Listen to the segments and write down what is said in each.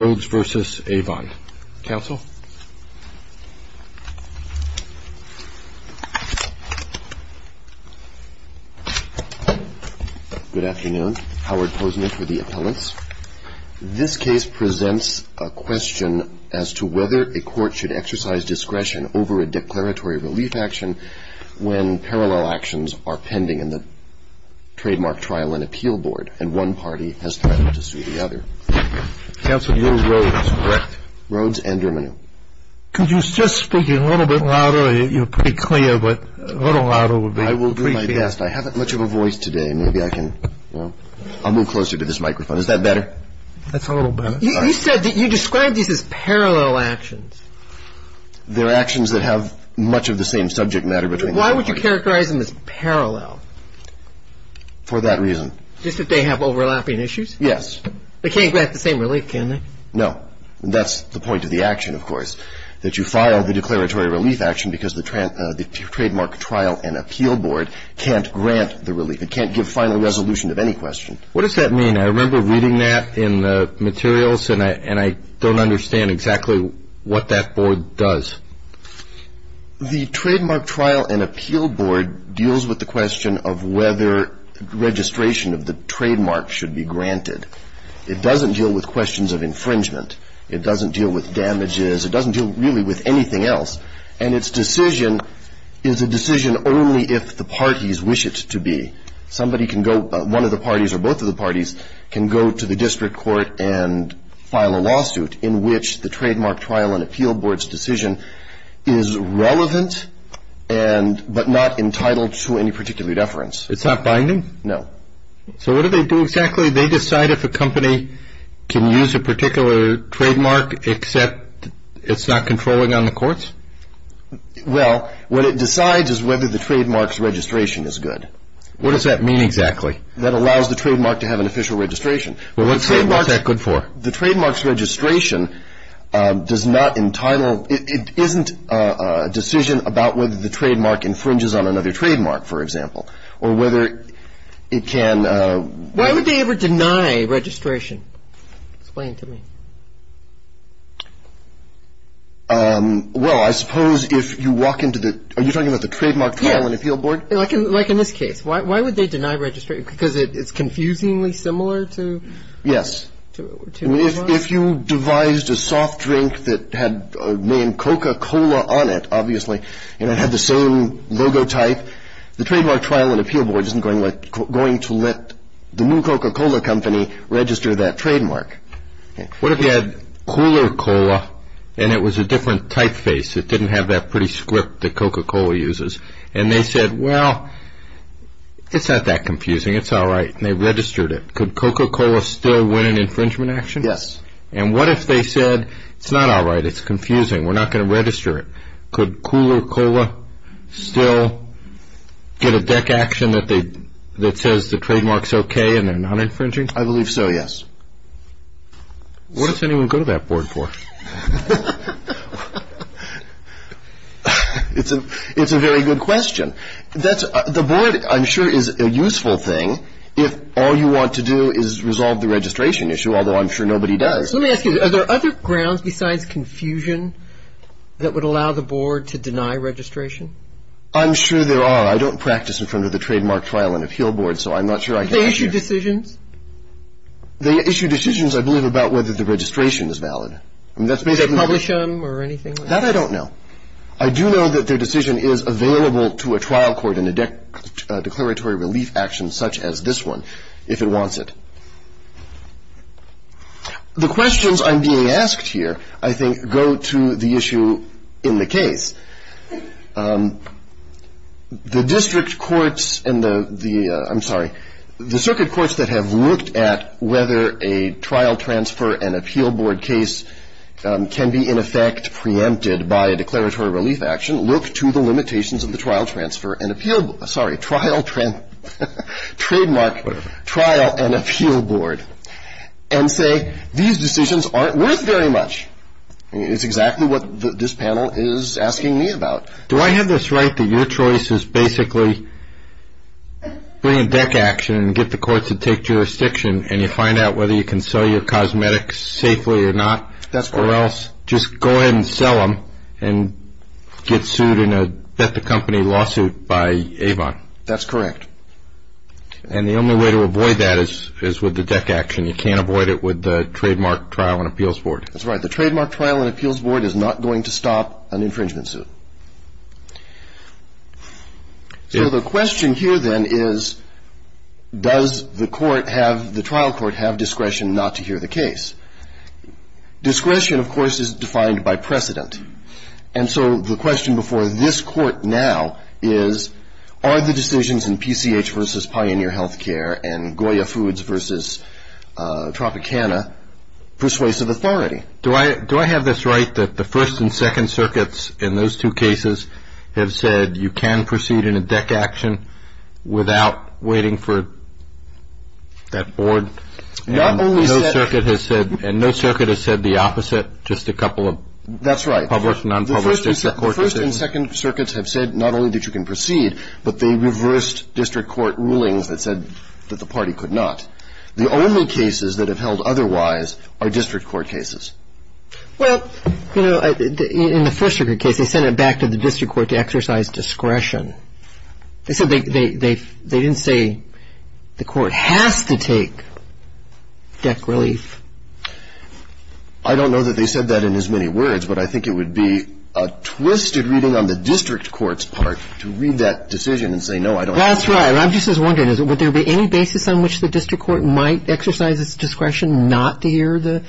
RHOADES v. AVON. Counsel? Good afternoon. Howard Posner for the appellants. This case presents a question as to whether a court should exercise discretion over a declaratory relief action when parallel actions are pending in the trademark trial and appeal board and one party has threatened to sue the other. Counsel, you're Rhoades, correct? Rhoades and Dermineau. Could you just speak a little bit louder? You're pretty clear, but a little louder would be... I will do my best. I haven't much of a voice today. Maybe I can, you know... I'll move closer to this microphone. Is that better? That's a little better. You said that you described these as parallel actions. They're actions that have much of the same subject matter between them. Why would you characterize them as parallel? For that reason. Just that they have overlapping issues? Yes. They can't grant the same relief, can they? No. That's the point of the action, of course, that you file the declaratory relief action because the trademark trial and appeal board can't grant the relief. It can't give final resolution of any question. What does that mean? I remember reading that in the materials and I don't understand exactly what that board does. The trademark trial and appeal board deals with the question of whether registration of the trademark should be granted. It doesn't deal with questions of infringement. It doesn't deal with damages. It doesn't deal really with anything else. And its decision is a decision only if the parties wish it to be. Somebody can go, one of the parties or both of the parties, can go to the district court and file a lawsuit in which the trademark trial and appeal board's decision is relevant but not entitled to any particular deference. It's not binding? No. So what do they do exactly? They decide if a company can use a particular trademark except it's not controlling on the courts? Well, what it decides is whether the trademark's registration is good. What does that mean exactly? That allows the trademark to have an official registration. Well, what's that good for? The trademark's registration does not entitle, it isn't a decision about whether the trademark infringes on another trademark, for example. Or whether it can. Why would they ever deny registration? Explain to me. Well, I suppose if you walk into the, are you talking about the trademark trial and appeal board? Yes. Like in this case. Why would they deny registration? Because it's confusingly similar to. Yes. If you devised a soft drink that had the name Coca-Cola on it, obviously, and it had the same logo type, the trademark trial and appeal board isn't going to let the new Coca-Cola company register that trademark. What if they had cooler cola and it was a different typeface? It didn't have that pretty script that Coca-Cola uses. And they said, well, it's not that confusing. It's all right. And they registered it. Could Coca-Cola still win an infringement action? Yes. And what if they said, it's not all right. It's confusing. We're not going to register it. Could cooler cola still get a deck action that says the trademark's okay and they're not infringing? I believe so, yes. What does anyone go to that board for? It's a very good question. The board, I'm sure, is a useful thing if all you want to do is resolve the registration issue, although I'm sure nobody does. Let me ask you, are there other grounds besides confusion that would allow the board to deny registration? I'm sure there are. I don't practice in front of the trademark trial and appeal board, so I'm not sure I can answer that. Do they issue decisions? They issue decisions, I believe, about whether the registration is valid. Do they publish them or anything like that? That I don't know. I do know that their decision is available to a trial court in a declaratory relief action such as this one, if it wants it. The questions I'm being asked here, I think, go to the issue in the case. The district courts and the, I'm sorry, the circuit courts that have looked at whether a trial transfer and appeal board case can be, in effect, preempted by a declaratory relief action, look to the limitations of the trial transfer and appeal, sorry, trial, trademark, trial and appeal board, and say these decisions aren't worth very much. It's exactly what this panel is asking me about. Do I have this right that your choice is basically bring a deck action and get the courts to take jurisdiction and you find out whether you can sell your cosmetics safely or not? That's correct. Or else just go ahead and sell them and get sued in a bet-the-company lawsuit by Avon? That's correct. And the only way to avoid that is with the deck action. You can't avoid it with the trademark trial and appeals board. That's right. The trademark trial and appeals board is not going to stop an infringement suit. So the question here, then, is does the court have, the trial court have discretion not to hear the case? Discretion, of course, is defined by precedent. And so the question before this court now is are the decisions in PCH versus Pioneer Healthcare and Goya Foods versus Tropicana persuasive authority? Do I have this right that the First and Second Circuits in those two cases have said you can proceed in a deck action without waiting for that board? Not only that. And no circuit has said the opposite, just a couple of published and unpublished cases? That's right. The First and Second Circuits have said not only that you can proceed, but they reversed district court rulings that said that the party could not. The only cases that have held otherwise are district court cases. Well, you know, in the First Circuit case, they sent it back to the district court to exercise discretion. They said they didn't say the court has to take deck relief. I don't know that they said that in as many words, but I think it would be a twisted reading on the district court's part to read that decision and say, no, I don't think so. That's right. I'm just wondering, would there be any basis on which the district court might exercise its discretion not to hear the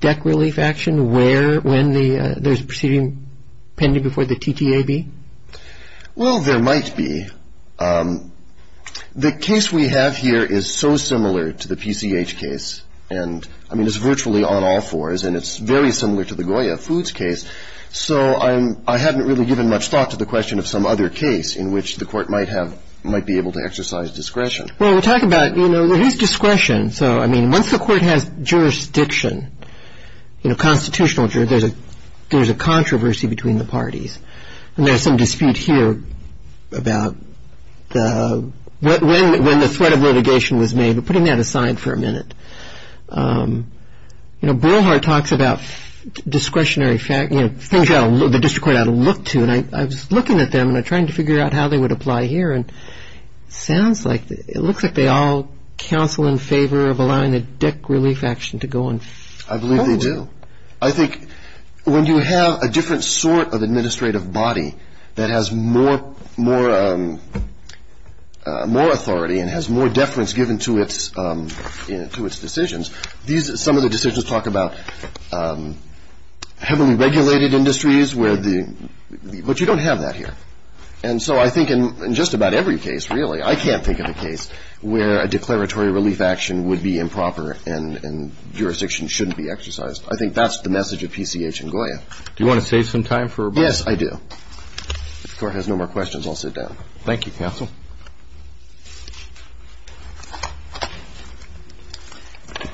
deck relief action when there's a proceeding pending before the TTAB? Well, there might be. The case we have here is so similar to the PCH case, and, I mean, it's virtually on all fours, and it's very similar to the Goya Foods case, so I haven't really given much thought to the question of some other case in which the court might be able to exercise discretion. Well, we're talking about, you know, there is discretion. So, I mean, once the court has jurisdiction, you know, constitutional jurisdiction, there's a controversy between the parties, and there's some dispute here about when the threat of litigation was made. But putting that aside for a minute, you know, Borhard talks about things the district court ought to look to, and I was looking at them and trying to figure out how they would apply here, and it looks like they all counsel in favor of allowing the deck relief action to go on. I believe they do. I think when you have a different sort of administrative body that has more authority and has more deference given to its decisions, some of the decisions talk about heavily regulated industries, but you don't have that here. And so I think in just about every case, really, I can't think of a case where a declaratory relief action would be improper and jurisdiction shouldn't be exercised. I think that's the message of PCH and Goya. Do you want to save some time for a break? Yes, I do. Thank you, counsel.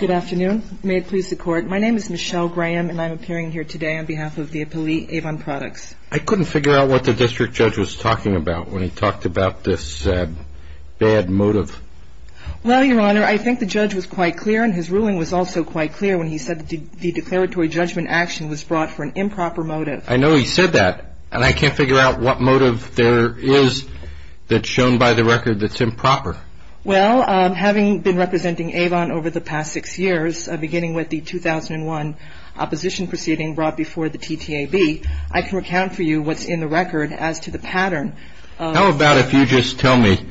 Good afternoon. May it please the Court. My name is Michelle Graham, and I'm appearing here today on behalf of the appellee, Avon Products. I couldn't figure out what the district judge was talking about when he talked about this bad motive. Well, Your Honor, I think the judge was quite clear, and his ruling was also quite clear when he said the declaratory judgment action was brought for an improper motive. I know he said that, and I can't figure out what motive there is that's shown by the record that's improper. Well, having been representing Avon over the past six years, beginning with the 2001 opposition proceeding brought before the TTAB, I can recount for you what's in the record as to the pattern. How about if you just tell me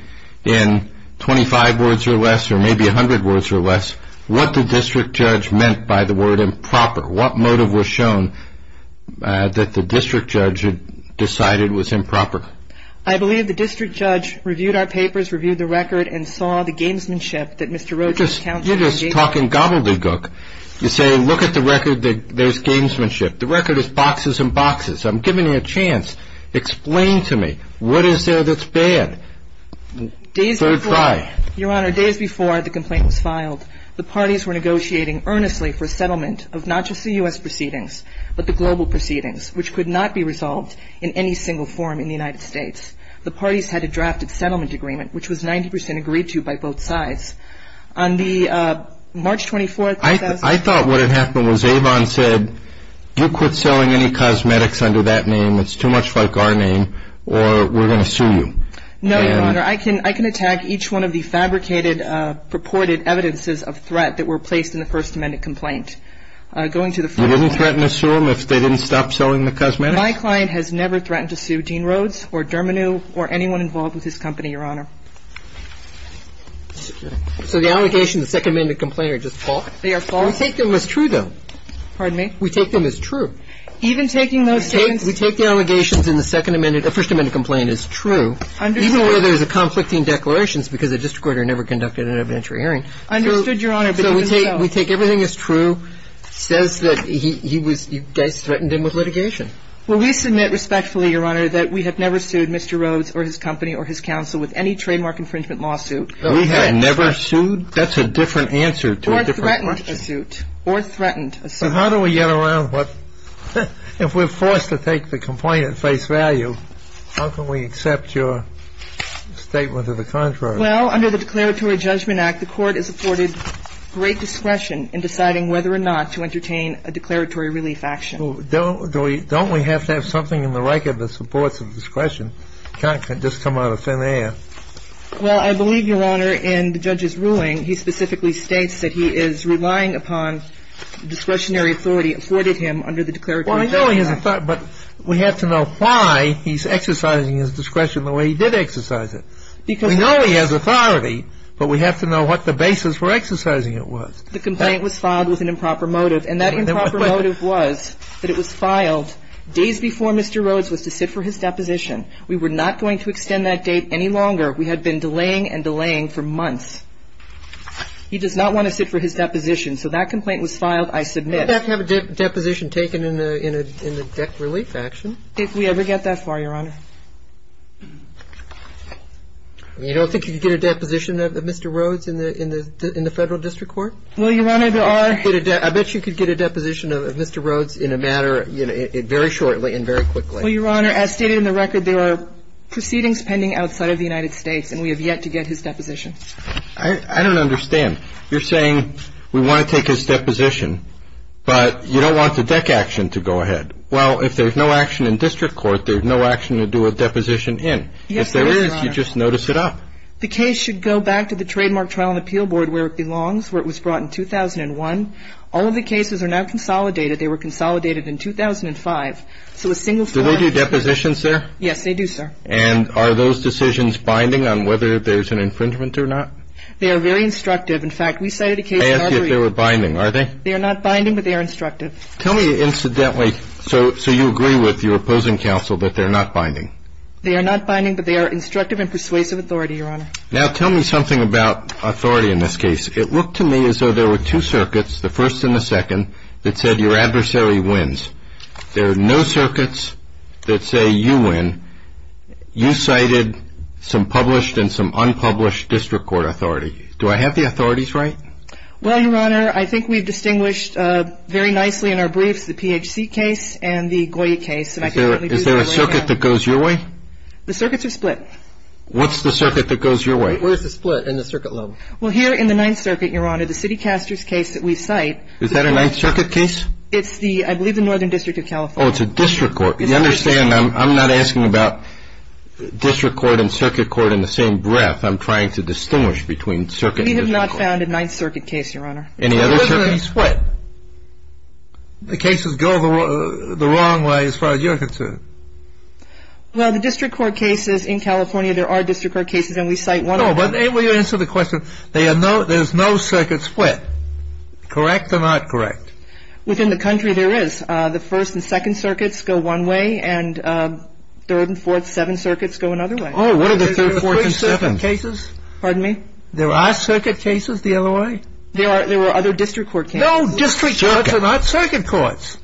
in 25 words or less, or maybe 100 words or less, what the district judge meant by the word improper? What motive was shown that the district judge had decided was improper? I believe the district judge reviewed our papers, reviewed the record, and saw the gamesmanship that Mr. Roach encountered. You're just talking gobbledygook. You say look at the record, there's gamesmanship. The record is boxes and boxes. I'm giving you a chance. Explain to me what is there that's bad. Third try. Your Honor, days before the complaint was filed, the parties were negotiating earnestly for settlement of not just the U.S. proceedings, but the global proceedings, which could not be resolved in any single forum in the United States. The parties had a drafted settlement agreement, which was 90% agreed to by both sides. On the March 24th, I thought what had happened was Avon said, you quit selling any cosmetics under that name, it's too much like our name, or we're going to sue you. No, Your Honor, I can attack each one of the fabricated, purported evidences of threat that were placed in the First Amendment complaint. You wouldn't threaten to sue them if they didn't stop selling the cosmetics? My client has never threatened to sue Dean Rhodes or Dermineau or anyone involved with his company, Your Honor. So the allegations in the Second Amendment complaint are just false? They are false. We take them as true, though. Pardon me? We take them as true. Even taking those things? We take the allegations in the Second Amendment or First Amendment complaint as true, even where there's a conflicting declaration, it's because the district court never conducted an evidentiary hearing. Understood, Your Honor, but even so. So we take everything as true, says that you guys threatened him with litigation? Well, we submit respectfully, Your Honor, that we have never sued Mr. Rhodes or his company or his counsel with any trademark infringement lawsuit. We have never sued? That's a different answer to a different question. Or threatened a suit. Or threatened a suit. But how do we get around what, if we're forced to take the complaint at face value, how can we accept your statement of the contrary? Well, under the Declaratory Judgment Act, the court is afforded great discretion in deciding whether or not to entertain a declaratory relief action. Don't we have to have something in the record that supports the discretion? It can't just come out of thin air. Well, I believe, Your Honor, in the judge's ruling, he specifically states that he is relying upon discretionary authority afforded him under the Declaratory Judgment Act. Well, I know he has authority, but we have to know why he's exercising his discretion the way he did exercise it. We know he has authority, but we have to know what the basis for exercising it was. The complaint was filed with an improper motive, and that improper motive was that it was filed days before Mr. Rhodes was to sit for his deposition. We were not going to extend that date any longer. We had been delaying and delaying for months. He does not want to sit for his deposition. So that complaint was filed. I submit. We would have to have a deposition taken in the deck relief action. If we ever get that far, Your Honor. You don't think you can get a deposition of Mr. Rhodes in the Federal District Court? Well, Your Honor, there are ---- I bet you could get a deposition of Mr. Rhodes in a matter, very shortly and very quickly. Well, Your Honor, as stated in the record, there are proceedings pending outside of the United States, and we have yet to get his deposition. I don't understand. You're saying we want to take his deposition, but you don't want the deck action to go ahead. Well, if there's no action in district court, there's no action to do a deposition Yes, there is, Your Honor. If there is, you just notice it up. The case should go back to the Trademark Trial and Appeal Board where it belongs, where it was brought in 2001. All of the cases are now consolidated. They were consolidated in 2005. So a single file---- Do they do depositions there? Yes, they do, sir. And are those decisions binding on whether there's an infringement or not? They are very instructive. In fact, we cited a case---- I asked you if they were binding. Are they? They are not binding, but they are instructive. Tell me, incidentally, so you agree with your opposing counsel that they're not binding? They are not binding, but they are instructive and persuasive authority, Your Honor. Now, tell me something about authority in this case. It looked to me as though there were two circuits, the first and the second, that said your adversary wins. There are no circuits that say you win. You cited some published and some unpublished district court authority. Do I have the authorities right? Well, Your Honor, I think we've distinguished very nicely in our briefs the PHC case and the Goya case. Is there a circuit that goes your way? The circuits are split. What's the circuit that goes your way? Where's the split in the circuit level? Well, here in the Ninth Circuit, Your Honor, the City Caster's case that we cite---- Is that a Ninth Circuit case? It's the, I believe, the Northern District of California. Oh, it's a district court. You understand I'm not asking about district court and circuit court in the same breath. I'm trying to distinguish between circuit and district court. We have not found a Ninth Circuit case, Your Honor. Any other circuits split? The cases go the wrong way as far as you're concerned. Well, the district court cases in California, there are district court cases, and we cite one of them. No, but answer the question. There's no circuit split. Correct or not correct? Within the country, there is. The First and Second Circuits go one way, and Third and Fourth, Seventh Circuits go another way. Oh, what are the Third, Fourth, and Seventh? Pardon me? There are circuit cases the other way? There were other district court cases. No, district courts are not circuit courts.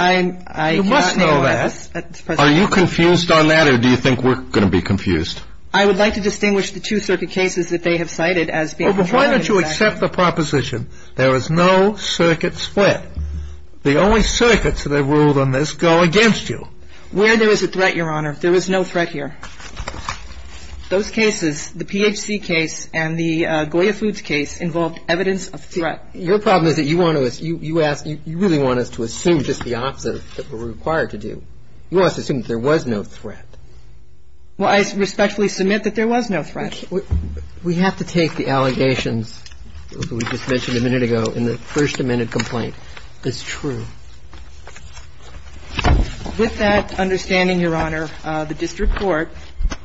You must know that. Are you confused on that, or do you think we're going to be confused? I would like to distinguish the two circuit cases that they have cited as being contrary. Well, why don't you accept the proposition there is no circuit split? The only circuits that are ruled on this go against you. Where there is a threat, Your Honor, there is no threat here. Those cases, the PHC case and the Goya Foods case, involved evidence of threat. Your problem is that you want us to assume just the opposite of what we're required to do. You want us to assume that there was no threat. Well, I respectfully submit that there was no threat. We have to take the allegations that we just mentioned a minute ago in the First Amendment complaint as true. With that understanding, Your Honor, the district court,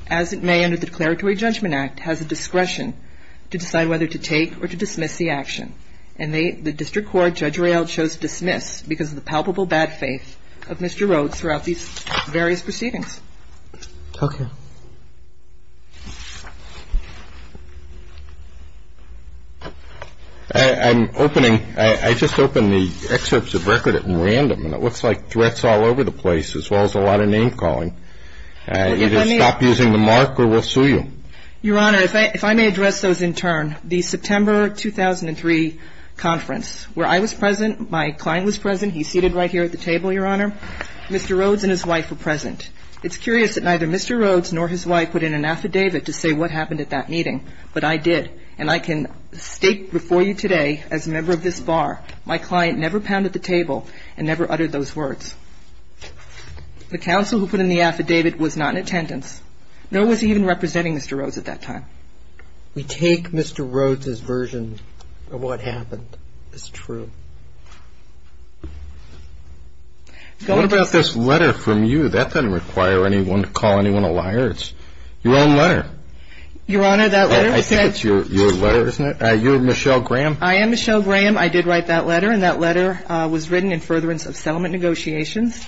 as it may under the Declaratory Judgment Act, has the discretion to decide whether to take or to dismiss the action. And the district court, Judge Rael, chose to dismiss because of the palpable bad faith of Mr. Rhodes throughout these various proceedings. Okay. Thank you. Thank you, Your Honor. I'm opening. I just opened the excerpts of record at random. And it looks like threats all over the place, as well as a lot of name calling. Either stop using the mark or we'll sue you. Your Honor, if I may address those in turn. The September 2003 conference, where I was present, my client was present. He's seated right here at the table, Your Honor. Mr. Rhodes and his wife were present. It's curious that neither Mr. Rhodes nor his wife put in an affidavit to say what happened at that meeting. But I did. And I can state before you today, as a member of this bar, my client never pounded the table and never uttered those words. The counsel who put in the affidavit was not in attendance. Nor was he even representing Mr. Rhodes at that time. We take Mr. Rhodes' version of what happened as true. What about this letter from you? That doesn't require anyone to call anyone a liar. It's your own letter. Your Honor, that letter. I think it's your letter, isn't it? You're Michelle Graham. I am Michelle Graham. I did write that letter. And that letter was written in furtherance of settlement negotiations,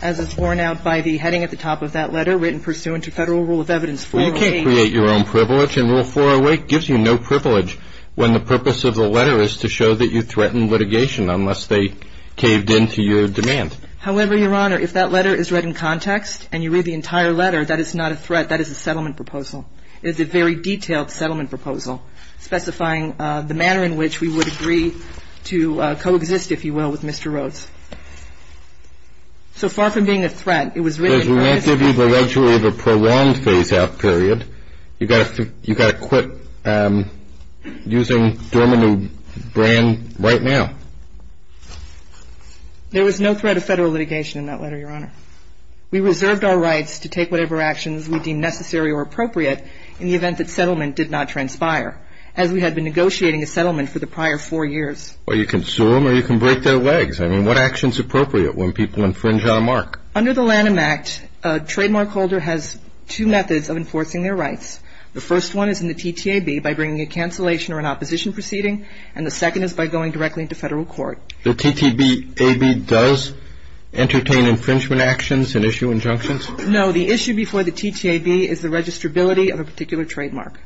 as is borne out by the heading at the top of that letter, written pursuant to Federal Rule of Evidence 408. You create your own privilege. And Rule 408 gives you no privilege when the purpose of the letter is to show that you threaten litigation. Unless they caved in to your demand. However, Your Honor, if that letter is read in context and you read the entire letter, that is not a threat. That is a settlement proposal. It is a very detailed settlement proposal, specifying the manner in which we would agree to coexist, if you will, with Mr. Rhodes. So far from being a threat, it was written in furtherance. We won't give you the luxury of a prolonged phase-out period. You've got to quit using dormant brand right now. There was no threat of federal litigation in that letter, Your Honor. We reserved our rights to take whatever actions we deemed necessary or appropriate in the event that settlement did not transpire, as we had been negotiating a settlement for the prior four years. Well, you can sue them or you can break their legs. I mean, what action is appropriate when people infringe on a mark? Under the Lanham Act, a trademark holder has two methods of enforcing their rights. The first one is in the TTAB by bringing a cancellation or an opposition proceeding, and the second is by going directly into federal court. The TTAB does entertain infringement actions and issue injunctions? No. The issue before the TTAB is the registrability of a particular trademark.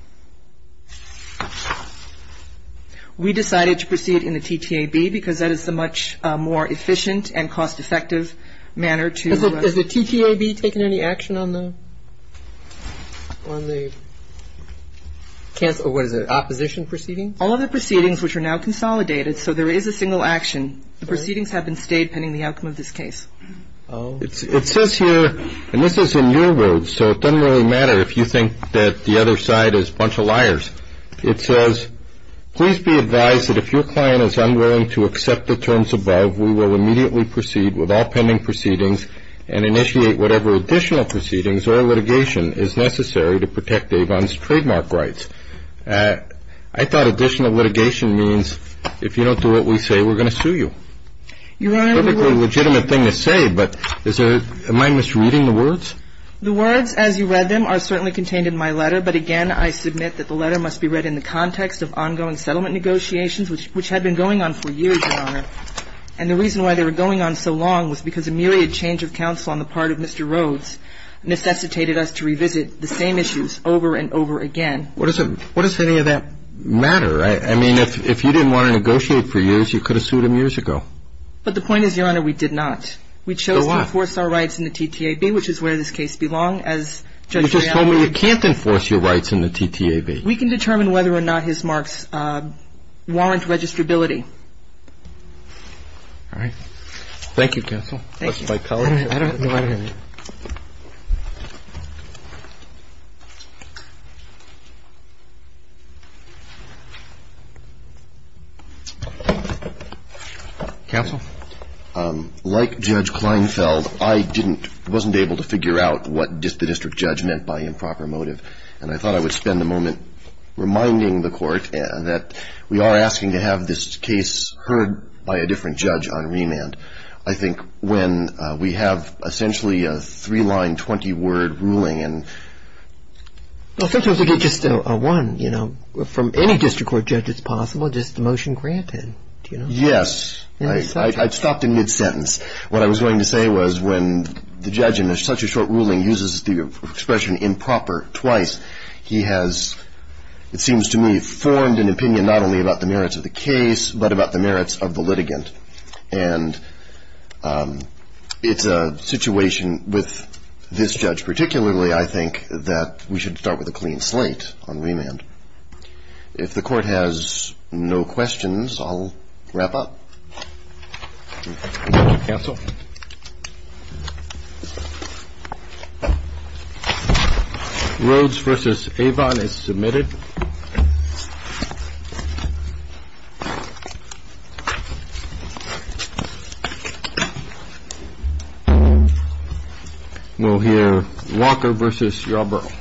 We decided to proceed in the TTAB because that is the much more efficient and cost-effective manner to ---- Has the TTAB taken any action on the ---- on the cancellation or what is it, opposition proceedings? All of the proceedings, which are now consolidated, so there is a single action. The proceedings have been stayed pending the outcome of this case. Oh. It says here, and this is in your words, so it doesn't really matter if you think that the other side is a bunch of liars. It says, Please be advised that if your client is unwilling to accept the terms above, we will immediately proceed with all pending proceedings and initiate whatever additional proceedings or litigation is necessary to protect Avon's trademark rights. I thought additional litigation means if you don't do what we say, we're going to sue you. Your Honor, we're ---- It's a perfectly legitimate thing to say, but is there ---- am I misreading the words? The words as you read them are certainly contained in my letter, but again I submit that the letter must be read in the context of ongoing settlement negotiations, which had been going on for years, Your Honor. And the reason why they were going on so long was because a myriad change of counsel on the part of Mr. Rhodes necessitated us to revisit the same issues over and over again. What does any of that matter? I mean, if you didn't want to negotiate for years, you could have sued him years ago. But the point is, Your Honor, we did not. We chose to enforce our rights in the TTAB, which is where this case belongs, as Judge Reale ---- You just told me you can't enforce your rights in the TTAB. We can determine whether or not his marks warrant registrability. All right. Thank you, counsel. Thank you. That's my colleague. I don't have your letter here. Counsel? Like Judge Kleinfeld, I wasn't able to figure out what the district judge meant by improper motive, and I thought I would spend a moment reminding the Court that we are asking to have this case heard by a different judge on remand. I think when we have essentially a three-line, 20-word ruling and ---- Well, sometimes we get just a one, you know, from any district court judge it's possible, just the motion granted, you know. Yes. I stopped in mid-sentence. What I was going to say was when the judge in such a short ruling uses the expression improper twice, he has, it seems to me, formed an opinion not only about the merits of the case, but about the merits of the litigant. And it's a situation with this judge particularly, I think, that we should start with a clean slate on remand. If the Court has no questions, I'll wrap up. Counsel? Rhodes v. Avon is submitted. We'll hear Walker v. Yarbrough. Thank you.